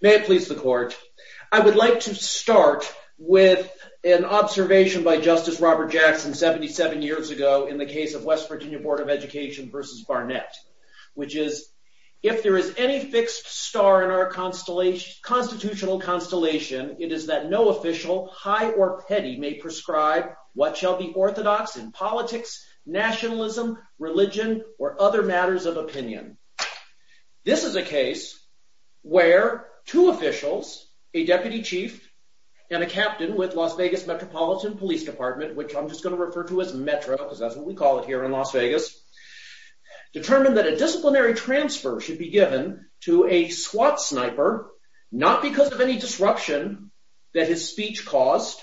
May it please the court. I would like to start with an observation by Justice Robert Jackson 77 years ago in the case of West Virginia Board of Education v. Barnett, which is, if there is any fixed star in our constitutional constellation, it is that no official, high or petty, may prescribe what shall be orthodox in politics, nationalism, religion, or other matters of opinion. This is a case where two officials, a deputy chief and a captain with Las Vegas Metropolitan Police Department, which I'm just going to refer to as Metro because that's what we call it here in Las Vegas, determined that a disciplinary transfer should be given to a SWAT sniper, not because of any disruption that his speech caused,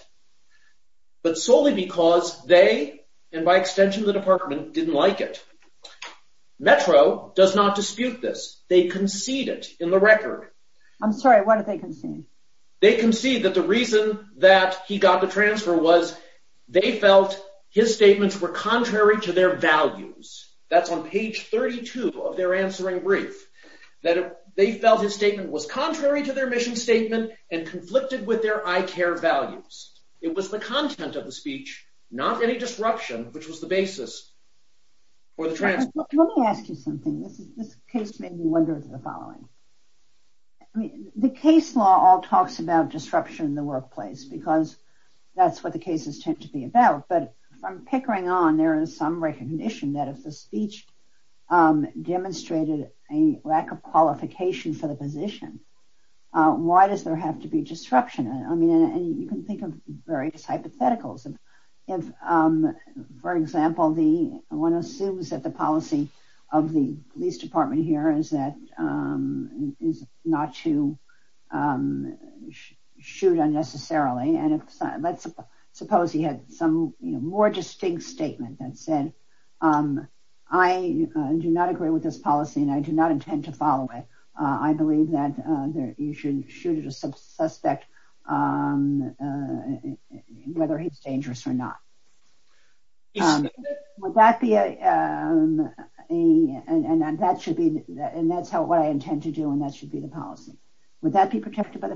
but solely because they, and by extension the department, didn't like it. Metro does not dispute this. They concede it in the record. I'm sorry, what did they concede? They concede that the reason that he got the transfer was they felt his statements were contrary to their values. That's on page 32 of their answering brief, that they felt his statement was contrary to their mission statement and conflicted with their ICARE values. It was the content of the speech, not any disruption, which was the basis for the transfer. Let me ask you something. This case made me wonder the following. I mean, the case law all talks about disruption in the workplace because that's what the cases tend to be about, but from pickering on, there is some recognition that if the speech demonstrated a lack of qualification for the position, why does there have to be disruption? I mean, you can think of various hypotheticals. For example, one assumes that the policy of the police department here is not to shoot unnecessarily. Let's suppose he had some more distinct statement that said, I do not agree with this policy and I do not intend to follow it. I believe that you should shoot at a suspect whether he's dangerous or not. That's what I intend to do and that should be the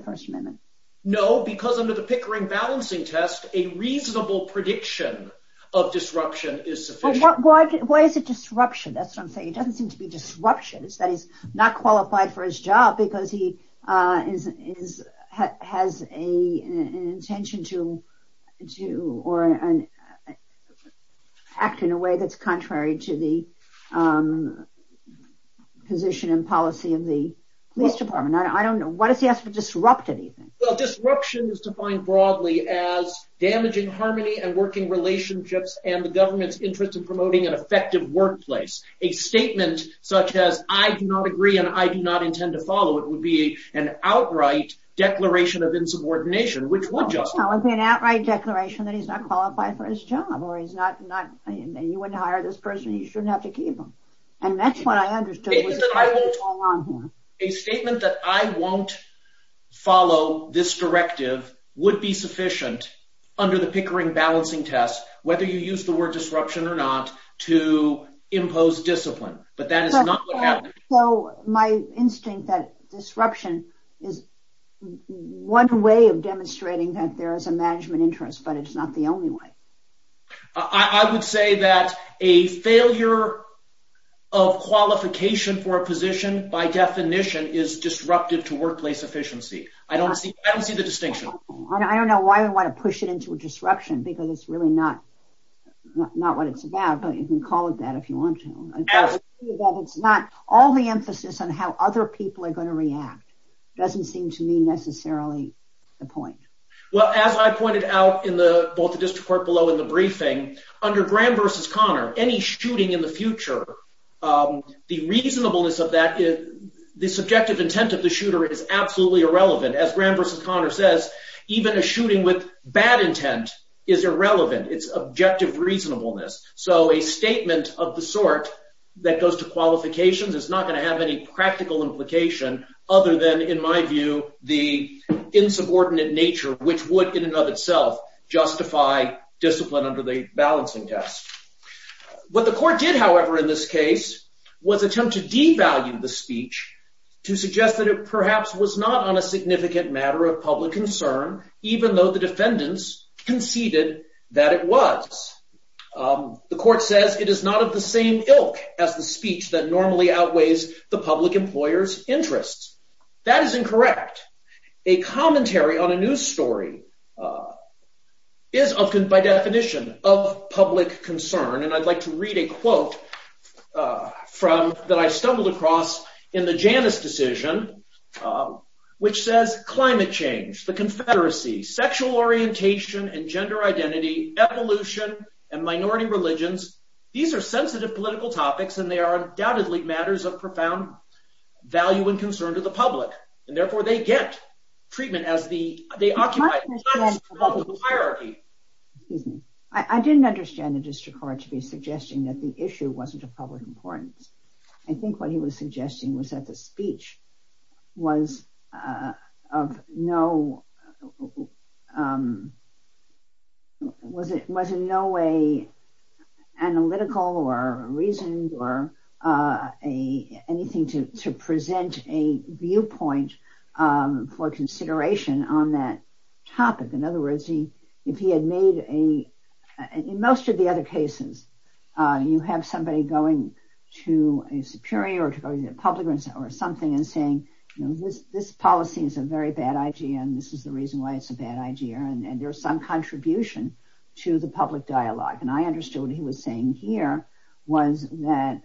first amendment. No, because under the pickering balancing test, a reasonable prediction of disruption is sufficient. Why is it disruption? That's what I'm saying. It doesn't seem to be disruption. It's that he's not qualified for his job because he has an intention to act in a way that's contrary to the position and policy of the police department. I don't know. Why does he have to disrupt anything? Well, disruption is defined broadly as damaging harmony and working relationships and the government's interest in promoting an effective workplace. A statement such as, I do not agree and I do not intend to follow it would be an outright declaration of insubordination, which would justify it. It would be an outright declaration that he's not qualified for his job and you wouldn't hire this person. You shouldn't have to keep him. That's what I understood. A statement that I won't follow this directive would be sufficient under the pickering balancing test, whether you use the word disruption or not to impose discipline, but that is not what happened. So, my instinct that disruption is one way of demonstrating that there is a management interest, but it's not the only way. I would say that a failure of qualification for a position by definition is disruptive to workplace efficiency. I don't see the distinction. I don't know why we want to push it into a disruption because it's really not what it's about, but you can call it that if you want to. All the emphasis on how other people are going to react doesn't seem to necessarily be the point. Well, as I pointed out in both the district court below in the briefing, under Graham v. Connor, any shooting in the future, the reasonableness of that, the subjective intent of the shooter is absolutely irrelevant. As Graham v. Connor says, even a shooting with bad intent is irrelevant. It's objective reasonableness. So, a statement of the sort that goes to qualifications is not going to have any practical implication other than, in my view, the insubordinate nature which would in and of itself justify discipline under the balancing test. What the court did, however, in this case was attempt to devalue the speech to suggest that it perhaps was not on a significant matter of public concern, even though the defendants conceded that it was. The court says it is not of the same ilk as the speech that that is incorrect. A commentary on a news story is often by definition of public concern, and I'd like to read a quote from that I stumbled across in the Janus decision, which says, climate change, the confederacy, sexual orientation, and gender identity, evolution, and minority religions, these are sensitive political topics and they are undoubtedly matters of profound value and concern to the public, and therefore they get treatment as the, they occupy the hierarchy. Excuse me, I didn't understand the district court to be suggesting that the issue wasn't of public importance. I think what he was suggesting was that the speech was of no, um, was it, was in no way analytical or reasoned or anything to present a viewpoint for consideration on that topic. In other words, he, if he had made a, in most of the other cases, you have somebody going to a superior or to go to the public or something and saying, this policy is a very bad idea, and this is the reason why it's a bad idea, and there's some contribution to the public dialogue, and I understood what he was saying here was that,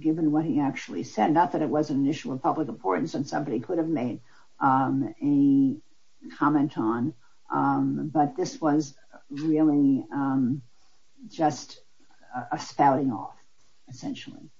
given what he actually said, not that it was an issue of public importance and somebody could have made a comment on, but this was really just a spouting off, essentially.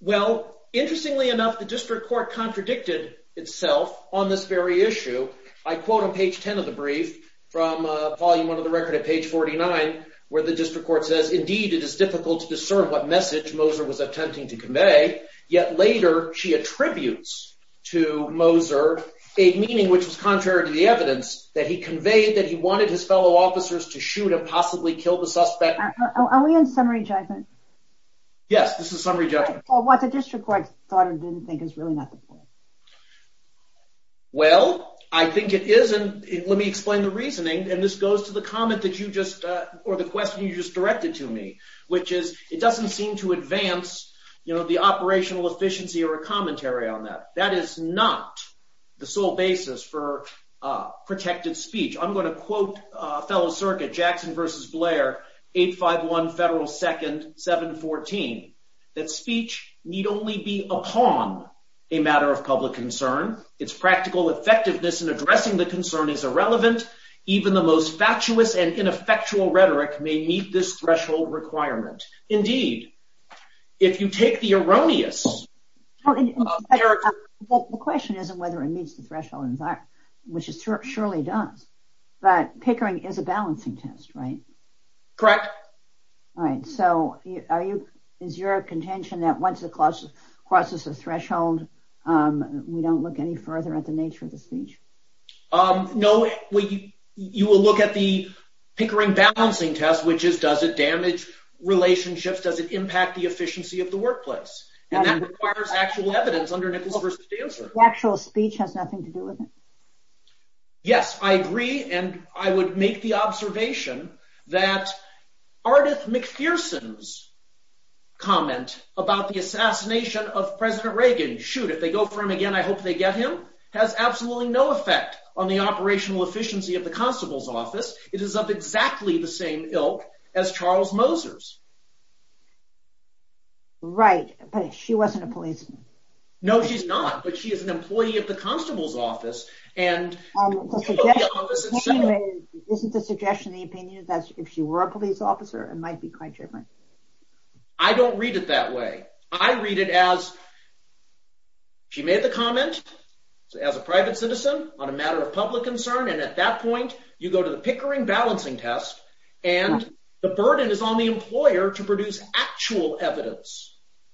Well, interestingly enough, the district court contradicted itself on this very issue. I quote on page 10 of the brief from, uh, volume one of the record at page 49, where the district court says, indeed, it is difficult to discern what message Moser was attempting to convey, yet later she attributes to Moser a meaning which was contrary to the evidence that he conveyed that he wanted his fellow officers to shoot and possibly kill the suspect. Are we on summary judgment? Yes, this is summary judgment. Well, I think it is, and let me explain the reasoning, and this goes to the comment that you just, uh, or the question you just directed to me, which is, it doesn't seem to advance, you know, the operational efficiency or a commentary on that. That is not the sole basis for, uh, protected speech. I'm going to quote, uh, fellow circuit Jackson versus Blair, 851 Federal 2nd, 714, that speech need only be upon a matter of public concern. Its practical effectiveness in addressing the concern is irrelevant. Even the most fatuous and ineffectual rhetoric may meet this threshold requirement. Indeed, if you take the erroneous... Well, the question isn't whether it meets the threshold, which it surely does, but Pickering is a balancing test, right? Correct. All right. So, are you, is your contention that once it crosses the threshold, um, we don't look any further at the nature of the speech? Um, no. You will look at the Pickering balancing test, which is, does it damage relationships? Does it impact the efficiency of the workplace? And that requires actual evidence The actual speech has nothing to do with it. Yes, I agree. And I would make the observation that Ardeth McPherson's comment about the assassination of President Reagan, shoot, if they go for him again, I hope they get him, has absolutely no effect on the operational efficiency of the constable's office. It is of exactly the same ilk as Charles Moser's. Right. But she wasn't a policeman. No, she's not, but she is an employee of the constable's office and... Isn't the suggestion, the opinion that if she were a police officer, it might be quite different. I don't read it that way. I read it as she made the comment as a private citizen on a matter of public concern. And at that point you go to the Pickering balancing test and the burden is on the employer to produce actual evidence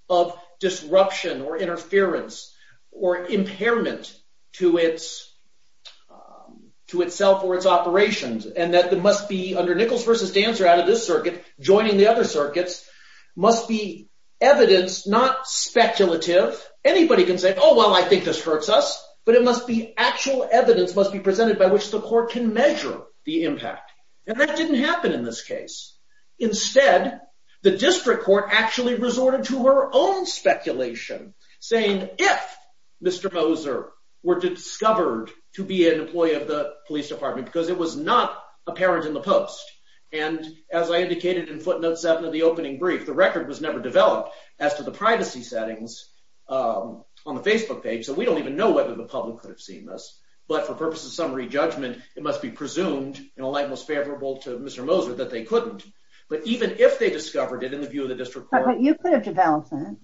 of disruption or interference or impairment to itself or its operations. And that must be under Nichols versus Dancer out of this circuit, joining the other circuits, must be evidence, not speculative. Anybody can say, oh, well, I think this hurts us, but it must be actual evidence must be presented by which the court can measure the impact. And that didn't happen in this case. Instead, the district court actually resorted to her own speculation, saying if Mr. Moser were discovered to be an employee of the police department, because it was not apparent in the post. And as I indicated in footnote seven of the opening brief, the record was never developed as to the privacy settings on the Facebook page. So we don't even know whether the public could have seen this. But for purposes of re-judgment, it must be presumed in a light most favorable to Mr. Moser that they couldn't. But even if they discovered it in the view of the district court. But you could have developed it.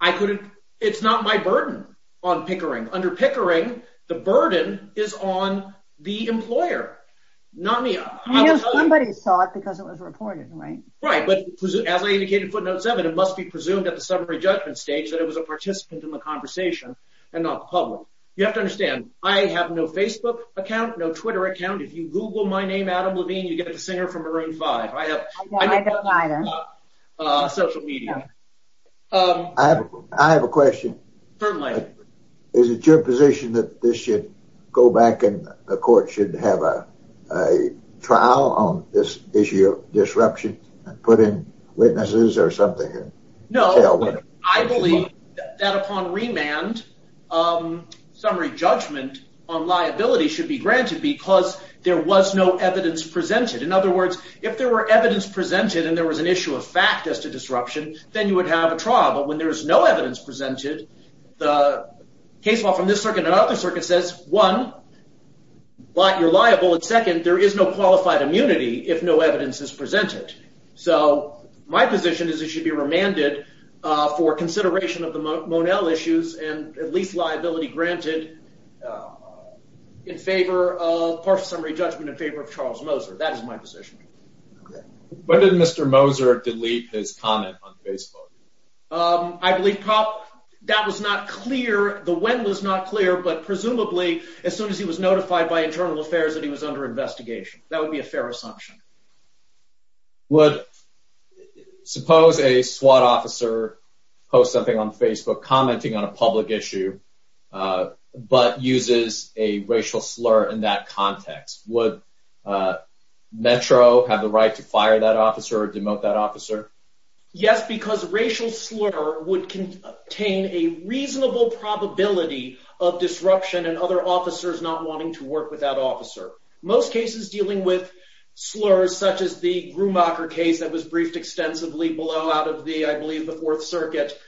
I couldn't. It's not my burden on Pickering. Under Pickering, the burden is on the employer, not me. Somebody saw it because it was reported, right? Right. But as I indicated in footnote seven, it must be presumed at the summary judgment stage that it was a participant in the conversation and not public. You have to understand, I have no Facebook account, no Twitter account. If you Google my name, Adam Levine, you get the singer from Maroon 5. I have social media. I have a question. Is it your position that this should go back and the court should have a trial on this issue of disruption and put in witnesses or something? No. I believe that upon remand, summary judgment on liability should be granted because there was no evidence presented. In other words, if there were evidence presented and there was an issue of fact as to disruption, then you would have a trial. But when there's no evidence presented, the case law from this circuit and other circuits says, one, you're liable. And second, there is no qualified immunity if no evidence is presented. So my position is it should be remanded for consideration of the Monell issues and at least liability granted in favor of partial summary judgment in favor of Charles Moser. That is my position. When did Mr. Moser delete his comment on Facebook? I believe, that was not clear. The when was not clear, but presumably as soon as he was notified by internal affairs that he was under investigation. That would be a fair assumption. Would suppose a SWAT officer post something on Facebook commenting on a public issue, but uses a racial slur in that context. Would Metro have the right to fire that officer or demote that officer? Yes, because racial slur would contain a reasonable probability of disruption and other officers not wanting to work with that officer. Most cases dealing with such as the Grumacher case that was briefed extensively below out of the, I believe, the Fourth Circuit.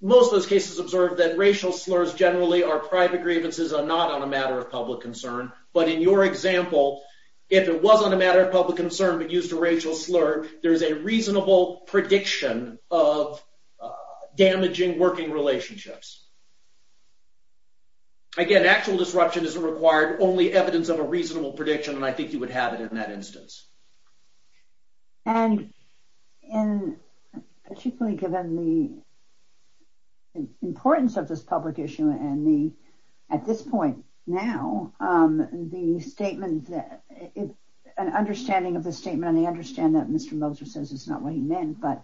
Most of those cases observed that racial slurs generally are private grievances are not on a matter of public concern. But in your example, if it wasn't a matter of public concern, but used a racial slur, there's a reasonable prediction of damaging working relationships. Again, actual disruption is required only evidence of a reasonable prediction, and I think you would have it in that instance. And in particularly given the importance of this public issue, and the at this point now, the statement that it's an understanding of the statement, and I understand that Mr. Moser says it's not what he meant, but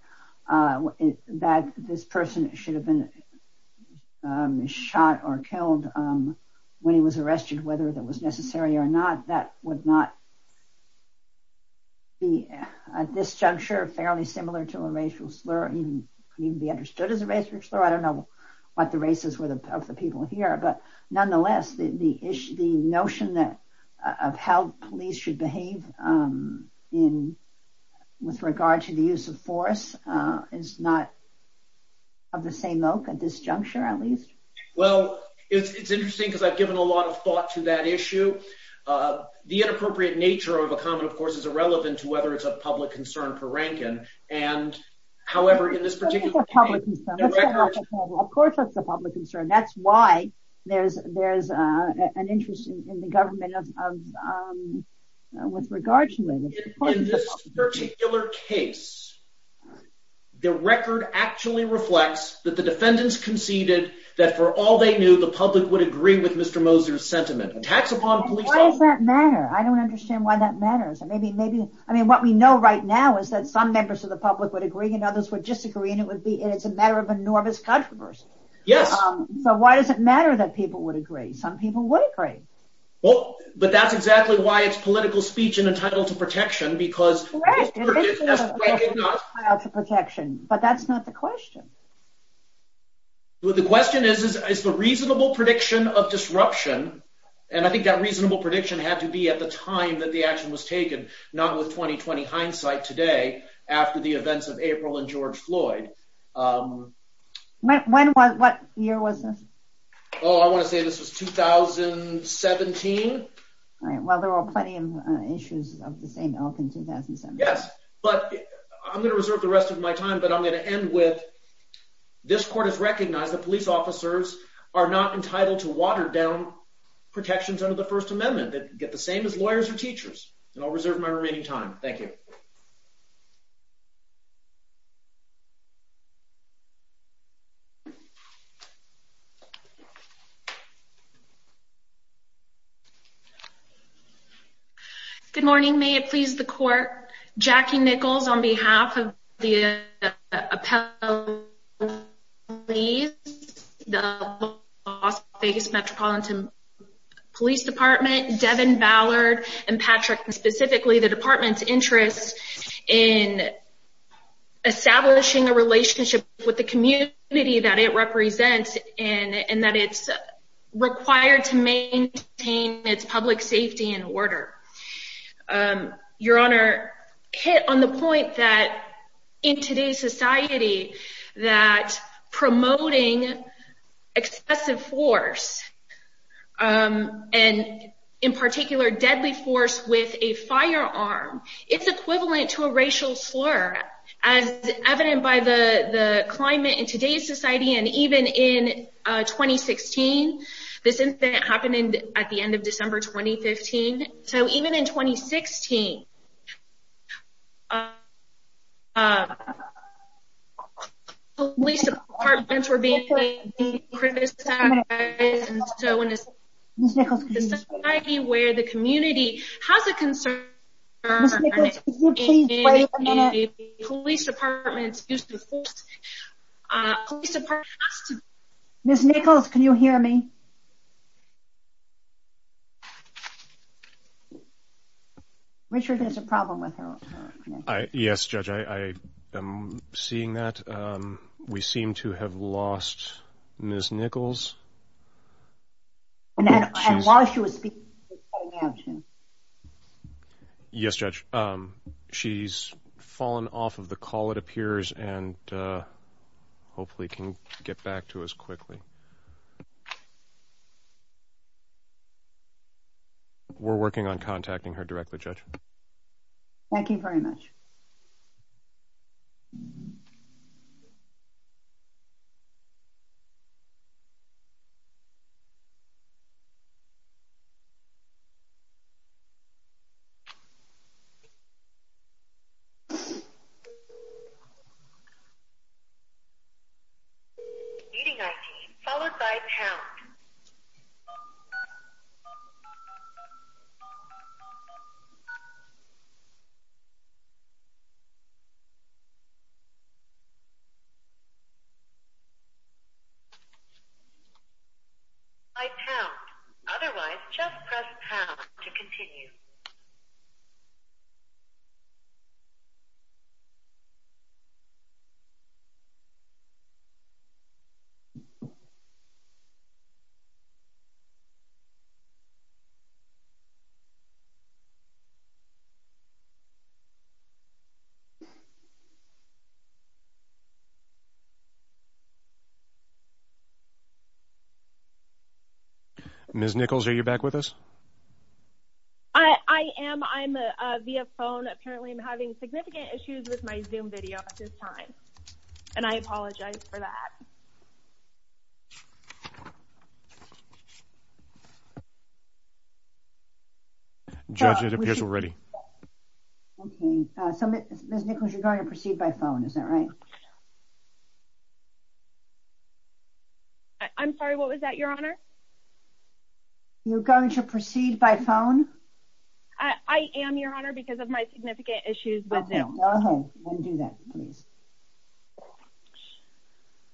that this person should have been shot or killed when he was arrested, whether that was necessary or not, that would not be at this juncture, fairly similar to a racial slur even be understood as a racial slur. I don't know what the races were the people here. But nonetheless, the issue, the notion that of how police should behave in with regard to the use of force is not of the same oak at this juncture, at least. Well, it's interesting, because I've given a lot of to that issue. The inappropriate nature of a comment, of course, is irrelevant to whether it's a public concern for Rankin. And however, in this particular case, of course, that's a public concern. That's why there's there's an interest in the government of with regard to this particular case. The record actually reflects that the defendants conceded that for all they knew, the public would agree with Mr. Moser sentiment attacks upon police. I don't understand why that matters. And maybe maybe I mean, what we know right now is that some members of the public would agree and others would disagree. And it would be it's a matter of enormous controversy. Yes. So why does it matter that people would agree? Some people would agree. Well, but that's exactly why it's political speech and entitled to protection because that's protection. But that's not the question. The question is, is the reasonable prediction of disruption? And I think that reasonable prediction had to be at the time that the action was taken, not with 2020 hindsight today, after the events of April and George Floyd. When was what year was this? I want to say this was 2017. All right. Well, there are plenty of issues of the same in 2017. Yes. But I'm going to reserve the rest of my time, but I'm going to end with this court has recognized that police officers are not entitled to watered down protections under the First Amendment that get the same as lawyers or teachers. And I'll reserve my remaining time. Thank you. Good morning. May it please the court. Jackie Nichols on behalf of the appellate police, the Las Vegas Metropolitan Police Department, Devin Ballard, and Patrick, specifically the department's interest in establishing a relationship with the community that it represents and that it's required to maintain its public safety and order. Your Honor, hit on the point that in today's society, that promoting excessive force and in particular deadly force with a firearm, it's equivalent to a racial slur, as evident by the climate in today's society. And even in 2016, this incident happened at the end of December 2015. So even in 2016, police departments were being criticized and so in this society where the community has a concern, police departments use the force, police department Miss Nichols, can you hear me? Richard, there's a problem with her. Yes, Judge, I am seeing that we seem to have lost Miss Nichols. And while she was speaking, she was cutting out. Yes, Judge, she's fallen off of the call, it appears, and hopefully can get back to us quickly. We're working on contacting her directly, Judge. Thank you very much. Okay. Meeting ID followed by pound. By pound. Otherwise, just press pound to continue. Miss Nichols, are you back with us? I am. I'm via phone. Apparently, I'm having significant issues with my Zoom video at this time. And I apologize for that. Judge, it appears we're ready. Okay, so Miss Nichols, you're going to proceed by phone, is that right? I'm sorry, what was that, Your Honor? You're going to proceed by phone? I am, Your Honor, because of my significant issues with Zoom.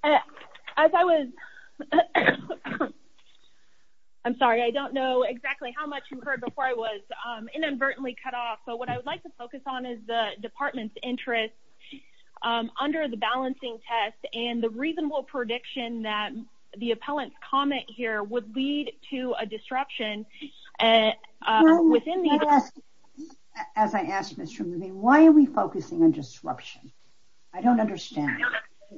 As I was, I'm sorry, I don't know exactly how much you heard before I was inadvertently cut off. So what I would like to focus on is the department's interest under the balancing test and the reasonable prediction that the appellant's comment here would lead to a disruption. As I asked Mr. Moody, why are we focusing on disruption? I don't understand.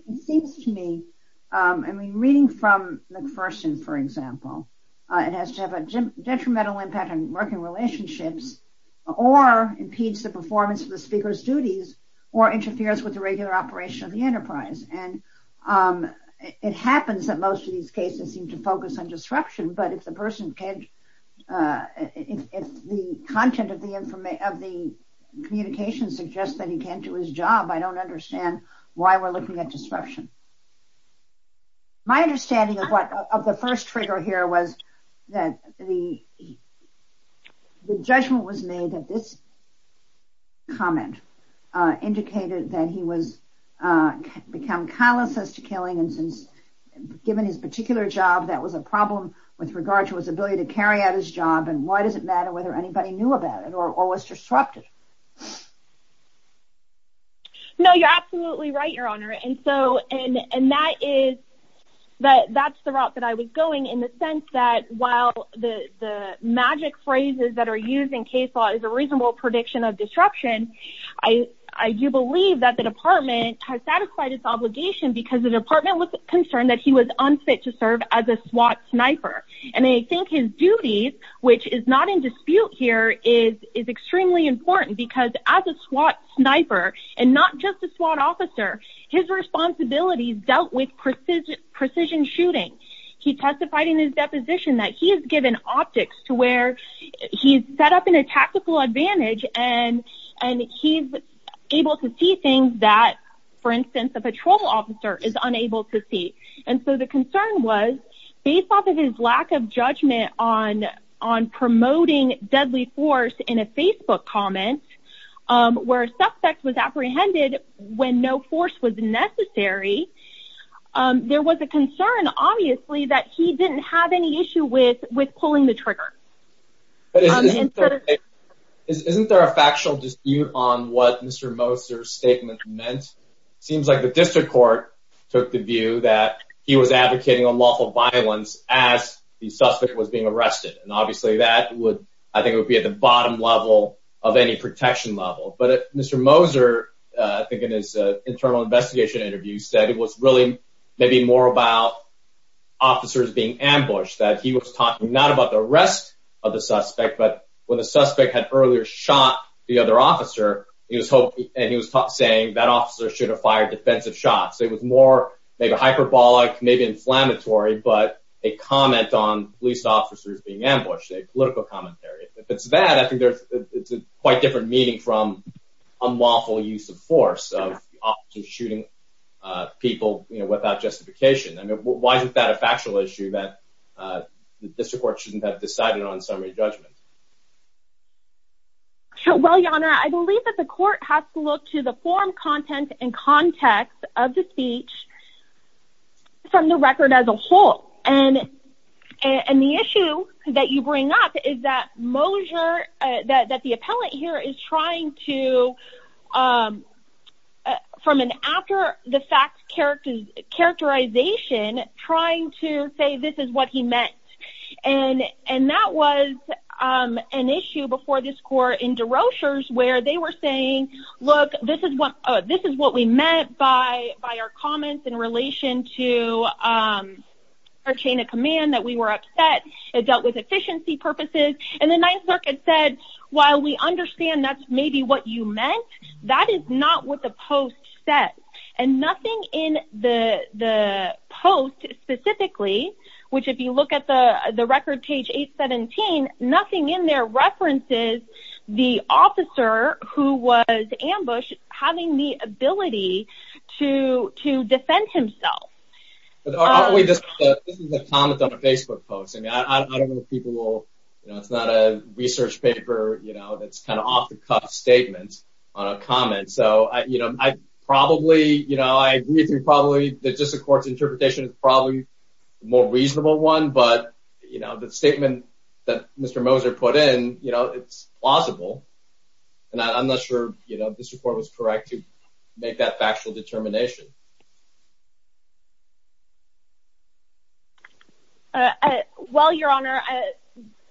It seems to me, I mean, reading from McPherson, for example, it has to have a detrimental impact on working relationships, or impedes the performance of the speaker's duties, or interferes with the regular operation of the enterprise. And it happens that most of these cases seem to focus on disruption. But if the person can't, if the content of the communication suggests that he can't do his job, I don't understand why we're looking at disruption. My understanding of what of the first trigger here was that the judgment was made that this comment indicated that he was become callous as to killing and since given his particular job, that was a problem with regard to his ability to carry out his job. And why does it matter whether anybody knew about it or was disrupted? No, you're absolutely right, Your Honor. And so, and that is that that's the route that I was going in the sense that while the magic phrases that are used in case law is a reasonable prediction of disruption, I do believe that the department has satisfied its obligation because the department was concerned that he was unfit to serve as a SWAT sniper. And they think his duties, which is not in dispute here is is extremely important because as a SWAT sniper, and not just a SWAT officer, his response abilities dealt with precision shooting. He testified in his deposition that he has given optics to where he's set up in a tactical advantage and he's able to see things that, for instance, a patrol officer is unable to see. And so the concern was based off of his lack of judgment on promoting deadly force in a Facebook comment, where a suspect was apprehended when no force was necessary. There was a concern, obviously, that he didn't have any issue with pulling the trigger. Isn't there a factual dispute on what Mr. Moser's statement meant? Seems like the district court took the view that he was advocating unlawful violence as the suspect was being arrested. And obviously that would, I think it would be at the bottom level of any protection level. But Mr. Moser, I think in his internal investigation interview, said it was really maybe more about officers being ambushed, that he was talking not about the arrest of the suspect, but when the suspect had earlier shot the other officer, he was hoping and he was saying that officer should have fired defensive shots. It was more maybe hyperbolic, maybe inflammatory, but a comment on police officers being ambushed, a political commentary. If it's that, I think there's quite different meaning from unlawful use of force of shooting people, you know, without justification. I mean, why is it that a factual issue that the district court shouldn't have decided on summary judgment? Well, your honor, I believe that the court has to look to the forum content and context of the speech from the record as a whole. And the issue that you bring up is that Moser, that the appellate here is trying to, from an after the fact characterization, trying to say this is what he meant. And that was an issue before this court in DeRochers where they were saying, look, this is what we meant by our comments in relation to our chain of command, that we were upset, it dealt with efficiency purposes. And the Ninth Circuit said, while we understand that's maybe what you meant, that is not what the post said. And nothing in the post specifically, which if you look at the record page 817, nothing in there references the officer who was ambushed having the ability to defend himself. This is a comment on a Facebook post. I don't know if people will, you know, it's not a research paper, you know, that's kind of off the cuff statement on a comment. So, you know, I probably, you know, I agree that probably the district court's interpretation is probably a more reasonable one. But, you know, the statement that Mr. Moser put in, you know, it's plausible. And I'm not sure, you know, this report was correct to make that factual determination. Well, Your Honor,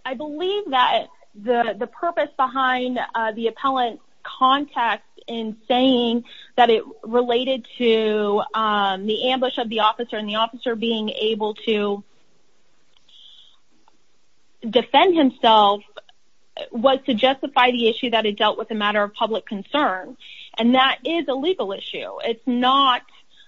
I believe that the purpose behind the appellant context in saying that it related to the ambush of the officer and the officer being able to defend himself was to justify the issue that it dealt with a matter of public concern. And that is a legal issue. It's not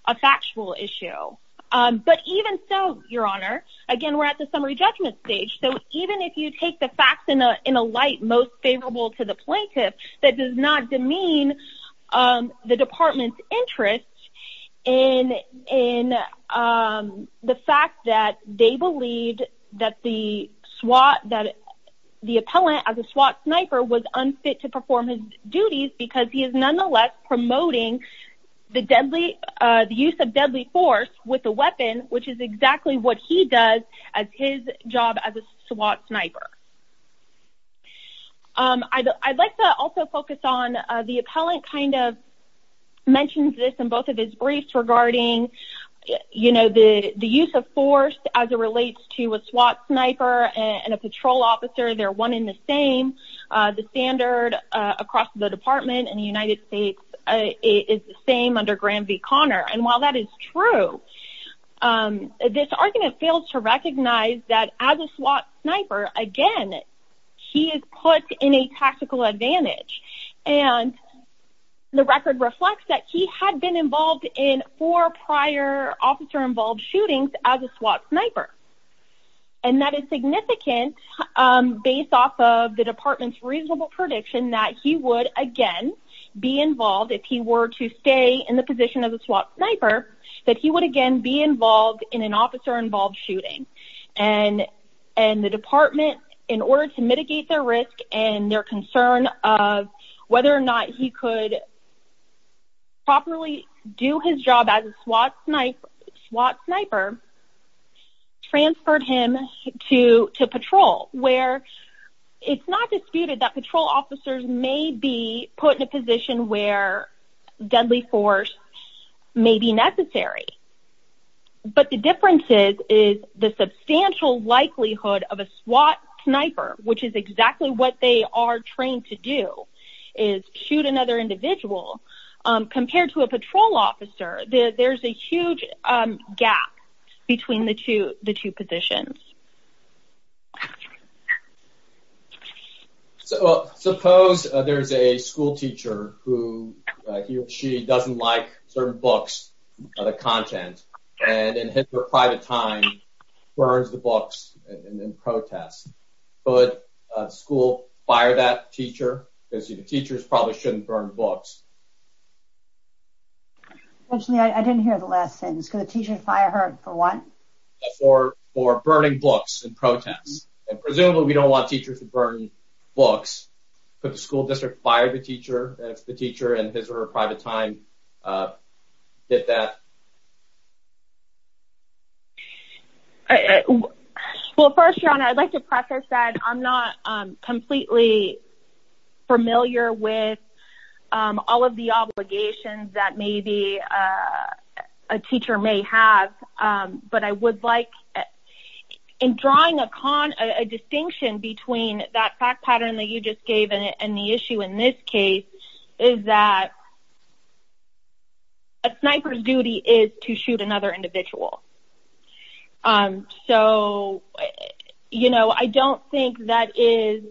a factual issue. But even so, Your Honor, again, we're at the summary judgment stage. So even if you take the facts in a light most favorable to the plaintiff, that does not demean the department's interest in the fact that they believed that the SWAT, that the appellant as a SWAT sniper was unfit to perform his duties because he is nonetheless promoting the deadly, the use of deadly force with a weapon, which is exactly what he does as his job as a SWAT sniper. I'd like to also focus on the appellant kind of mentioned this in both of his briefs regarding, you know, the use of force as it relates to a SWAT sniper and a patrol officer. They're one in the same. The standard across the department in the United States is the same under Graham v. Connor. And while that is true, this argument fails to recognize that as a SWAT sniper, again, he is put in a tactical advantage. And the record reflects that he had been involved in four prior officer-involved shootings as a SWAT sniper. And that is significant based off of the department's reasonable prediction that he would, again, be involved if he were to stay in the position of a SWAT sniper, that he would again be involved in an officer-involved shooting. And the department, in order to mitigate their risk and their concern of whether or not he could properly do his job as a SWAT sniper, transferred him to patrol, where it's not disputed that patrol officers may be put in a position where deadly force may be necessary. But the difference is the substantial likelihood of a trained SWAT sniper shooting another individual compared to a patrol officer, there's a huge gap between the two positions. So suppose there's a schoolteacher who, he or she doesn't like certain books, other content, and in his or her private time, burns the books in protest. Could a school fire that teacher? Because the teachers probably shouldn't burn books. Unfortunately, I didn't hear the last sentence. Could a teacher fire her for what? For burning books in protest. And presumably, we don't want teachers to burn books. Could the that? Well, first, your honor, I'd like to preface that I'm not completely familiar with all of the obligations that maybe a teacher may have. But I would like, in drawing a distinction between that fact pattern that you just gave and the issue in this case, is that a sniper's duty is to shoot another individual. So, you know, I don't think that is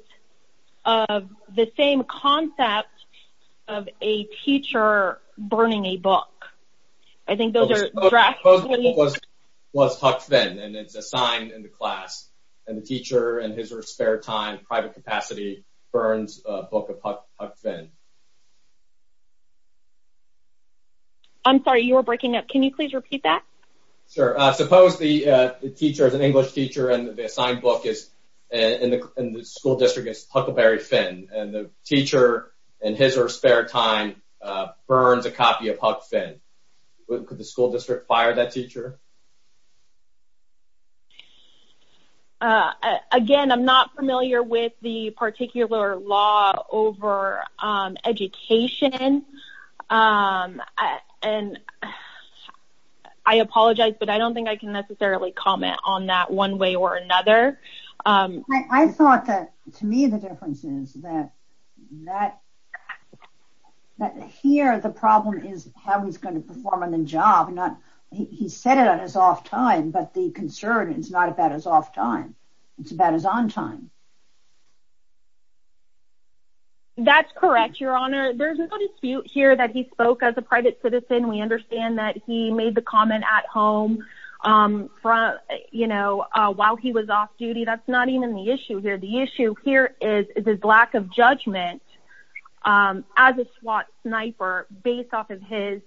the same concept of a teacher burning a book. I think those are drafts. Was Huck Finn, and it's assigned in the class, and the teacher and his or her spare time, private capacity, burns a book of Huck Finn. I'm sorry, you were breaking up. Can you please repeat that? Sure. Suppose the teacher is an English teacher, and the assigned book is, in the school district, is Huckleberry Finn. And the teacher, in his or her spare time, burns a copy of Huck Finn. Could the school district fire that teacher? Again, I'm not familiar with the particular law over education. And I apologize, but I don't think I can necessarily comment on that one way or another. I thought that, to me, the difference is that here, the problem is how he's going to perform in the job. He said it on his off time, but the concern is not about his off time. It's about his on time. That's correct, Your Honor. There's no dispute here that he spoke as a private citizen. We understand that he made the comment at home while he was off duty. That's not even the issue here. It's his lack of judgment as a SWAT sniper based off of his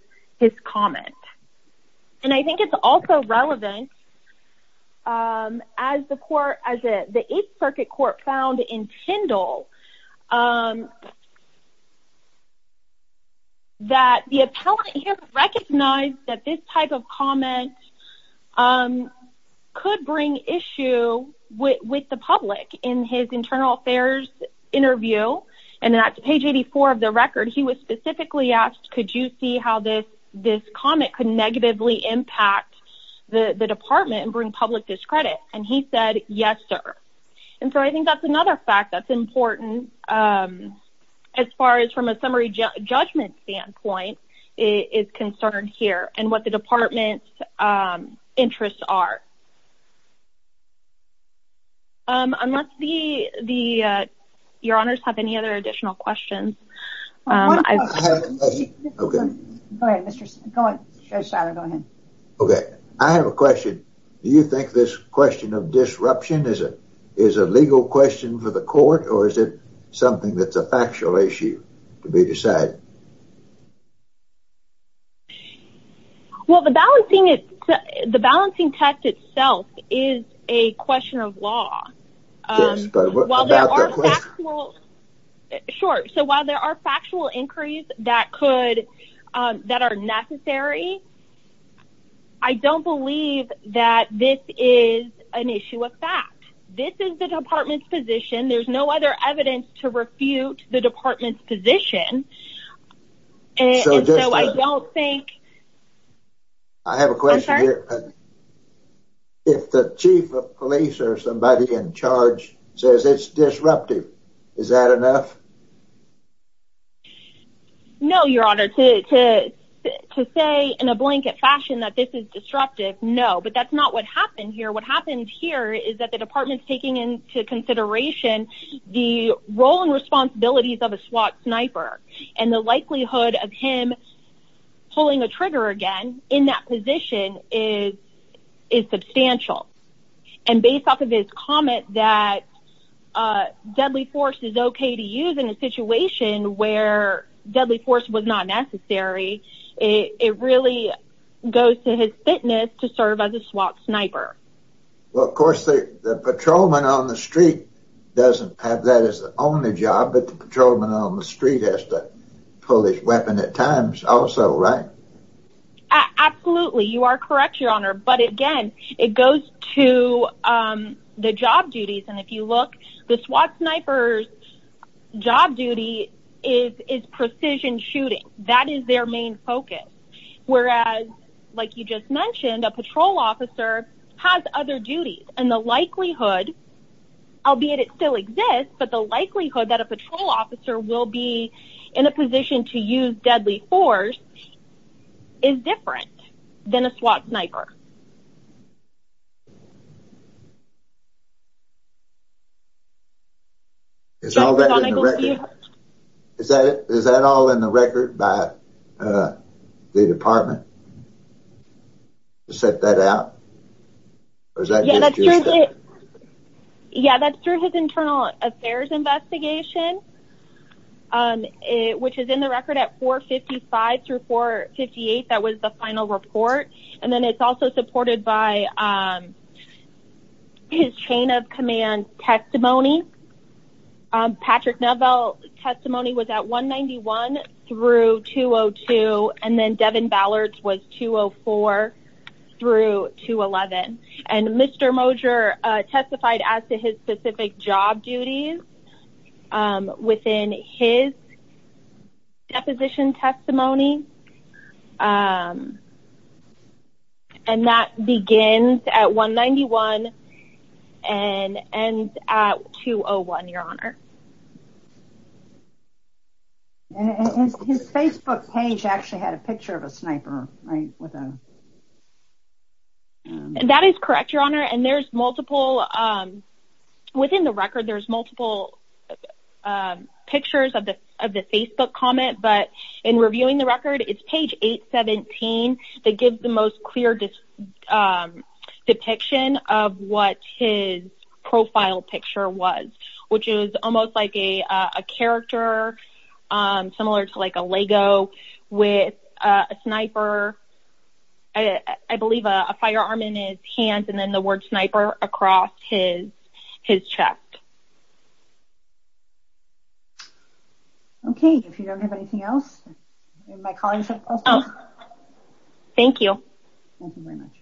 comment. And I think it's also relevant, as the Eighth Circuit Court found in Tyndall, that the appellant here recognized that this type of comment could bring issue with the public. In his internal affairs interview, and that's page 84 of the record, he was specifically asked, could you see how this comment could negatively impact the department and bring public discredit? And he said, yes, sir. And so I think that's another fact that's important, as far as from a summary judgment standpoint is concerned here, and what the department's interests are. Your Honors, do you have any other additional questions? I have a question. Do you think this question of disruption is a legal question for the court, or is it something that's a factual issue to be decided? Well, the balancing test itself is a question of law. Sure. So while there are factual inquiries that are necessary, I don't believe that this is an issue of fact. This is the department's position. There's no evidence to refute the department's position. I have a question here. If the chief of police or somebody in charge says it's disruptive, is that enough? No, Your Honor. To say in a blanket fashion that this is disruptive, no. But that's not what happened here. What happened here is that the department's taking into consideration the role and responsibilities of a SWAT sniper and the likelihood of him pulling a trigger again in that position is substantial. And based off of his comment that deadly force is okay to use in a situation where deadly force was not necessary, it really goes to his fitness to serve as a SWAT sniper. Well, of course, the patrolman on the street doesn't have that as the only job, but the patrolman on the street has to pull his weapon at times also, right? Absolutely. You are correct, Your Honor. But again, it goes to the job duties. And if you look, the SWAT sniper's job duty is precision shooting. That is their main focus. Whereas, like you just mentioned, a patrol officer has other duties. And the likelihood, albeit it still exists, but the likelihood that a patrol officer will be in a position to use deadly force is different than a SWAT sniper. Is that all in the record by the department to set that out? Yeah, that's through his internal affairs investigation, which is in the record at by his chain of command testimony. Patrick Novell testimony was at 191 through 202. And then Devin Ballard was 204 through 211. And Mr. Moser testified as to his specific job duties within his deposition testimony. And that begins at 191 and ends at 201, Your Honor. His Facebook page actually had a picture of a sniper, right? And that is correct, Your Honor. And there's multiple, within the record, there's multiple pictures of the Facebook comment. But in reviewing the record, it's page 817 that gives the most clear depiction of what his profile picture was, which is almost like a I believe a firearm in his hands, and then the word sniper across his chest. Okay, if you don't have anything else, my colleagues. Thank you. Thank you very much.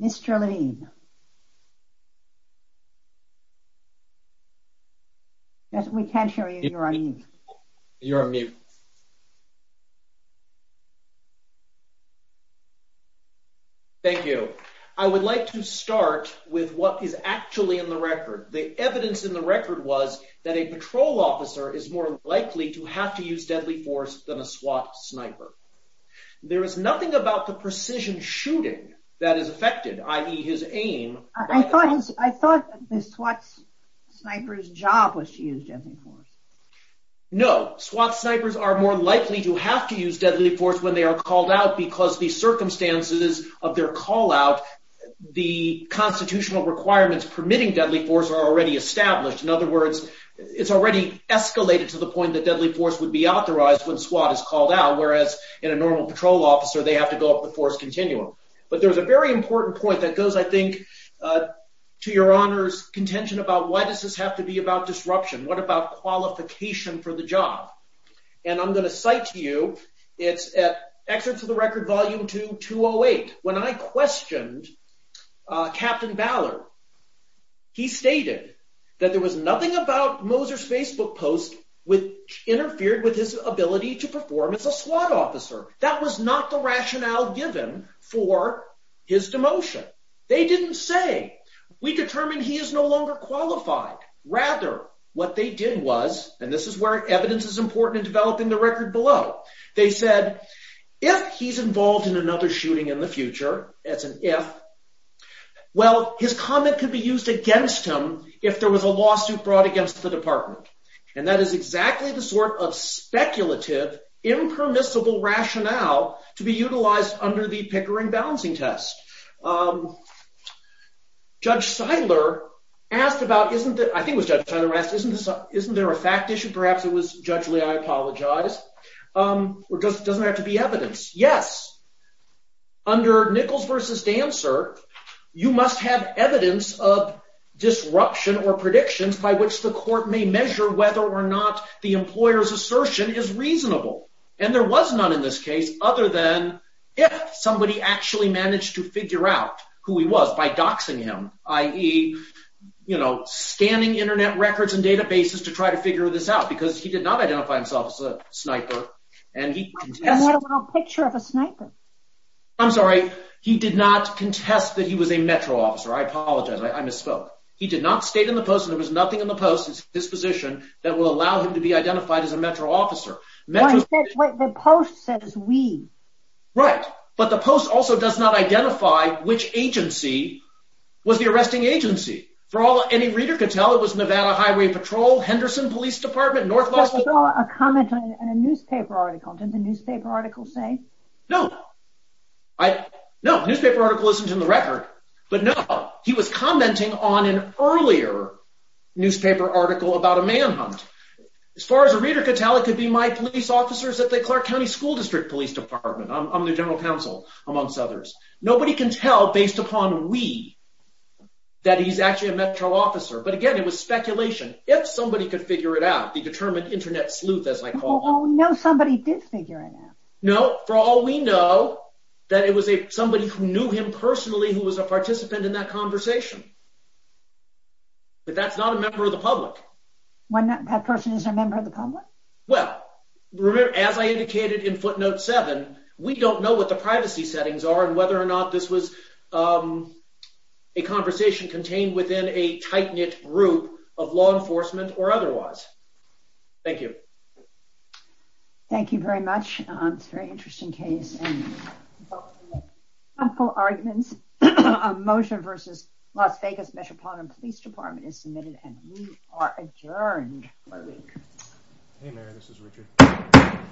Mr. Levine. We can't hear you. You're on mute. You're on mute. Thank you. I would like to start with what is actually in the record. The evidence in the record was that a patrol officer is more likely to have to use deadly force than a SWAT sniper. There is nothing about the precision shooting that is affected, i.e. his aim. I thought the SWAT sniper's job was to use deadly force. No, SWAT snipers are more likely to have to use deadly force when they are called out, because the circumstances of their call out, the constitutional requirements permitting deadly force are already established. In other words, it's already escalated to the point that deadly force would be authorized when SWAT is called out, whereas in a normal patrol officer, they have to go up the force continuum. But there's a very important point that goes, I think, to Your Honor's contention about why does this have to be about disruption? What about qualification for the job? And I'm going to cite to you, it's at Excerpts of the Record, Volume 2, 208. When I questioned Captain Ballard, he stated that there was nothing about Moser's Facebook post which interfered with his ability to perform as a SWAT officer. That was not the rationale given for his demotion. They didn't say, we determined he is no longer qualified. Rather, what they did was, and this is where evidence is important in developing the record below, they said, if he's involved in another shooting in the future, that's an if, well, his comment could be used against him if there was a lawsuit brought against the department. And that is exactly the sort of speculative, impermissible rationale to be utilized under the Pickering Balancing Test. Judge Seidler asked about, I think it was Judge Seidler who asked, isn't there a fact issue? Perhaps it was judgely, I apologize. Or doesn't it have to be evidence? Yes. Under Nichols v. Dancer, you must have evidence of disruption or predictions by which the court may measure whether or not the employer's assertion is reasonable. And there was none in this case other than if somebody actually managed to figure out who he was by doxing him, i.e., you know, scanning internet records and databases to try to figure this out, because he did not identify himself as a sniper. And he contested. I have a picture of a sniper. I'm sorry, he did not contest that he was a Metro officer. I apologize, I misspoke. He did not state in the post, there was nothing in the post, his disposition, that will allow him to be identified as a Metro officer. The post says we. Right. But the post also does not identify which agency was the arresting agency. For all any reader could tell, it was Nevada Highway Patrol, Henderson Police Department, North Boston. There was a comment in a newspaper article. Didn't the newspaper article say? No. No, newspaper article isn't in the record. But no, he was commenting on an earlier newspaper article about a manhunt. As far as a reader could tell, it could be my police officers at the Clark County School District Police Department. I'm the general counsel, amongst others. Nobody can tell, based upon we, that he's actually a Metro officer. But again, it was speculation. If somebody could figure it out, the determined internet sleuth, as I call it. Oh no, somebody did figure it out. No, for all we know, that it was a somebody who knew him personally, who was a member of the public. When that person is a member of the public? Well, remember, as I indicated in footnote seven, we don't know what the privacy settings are, and whether or not this was a conversation contained within a tight-knit group of law enforcement or otherwise. Thank you. Thank you very much. It's a very interesting case and helpful arguments. A motion versus Las Vegas Metropolitan Police Department is submitted and we are adjourned. Hey Mayor, this is Richard.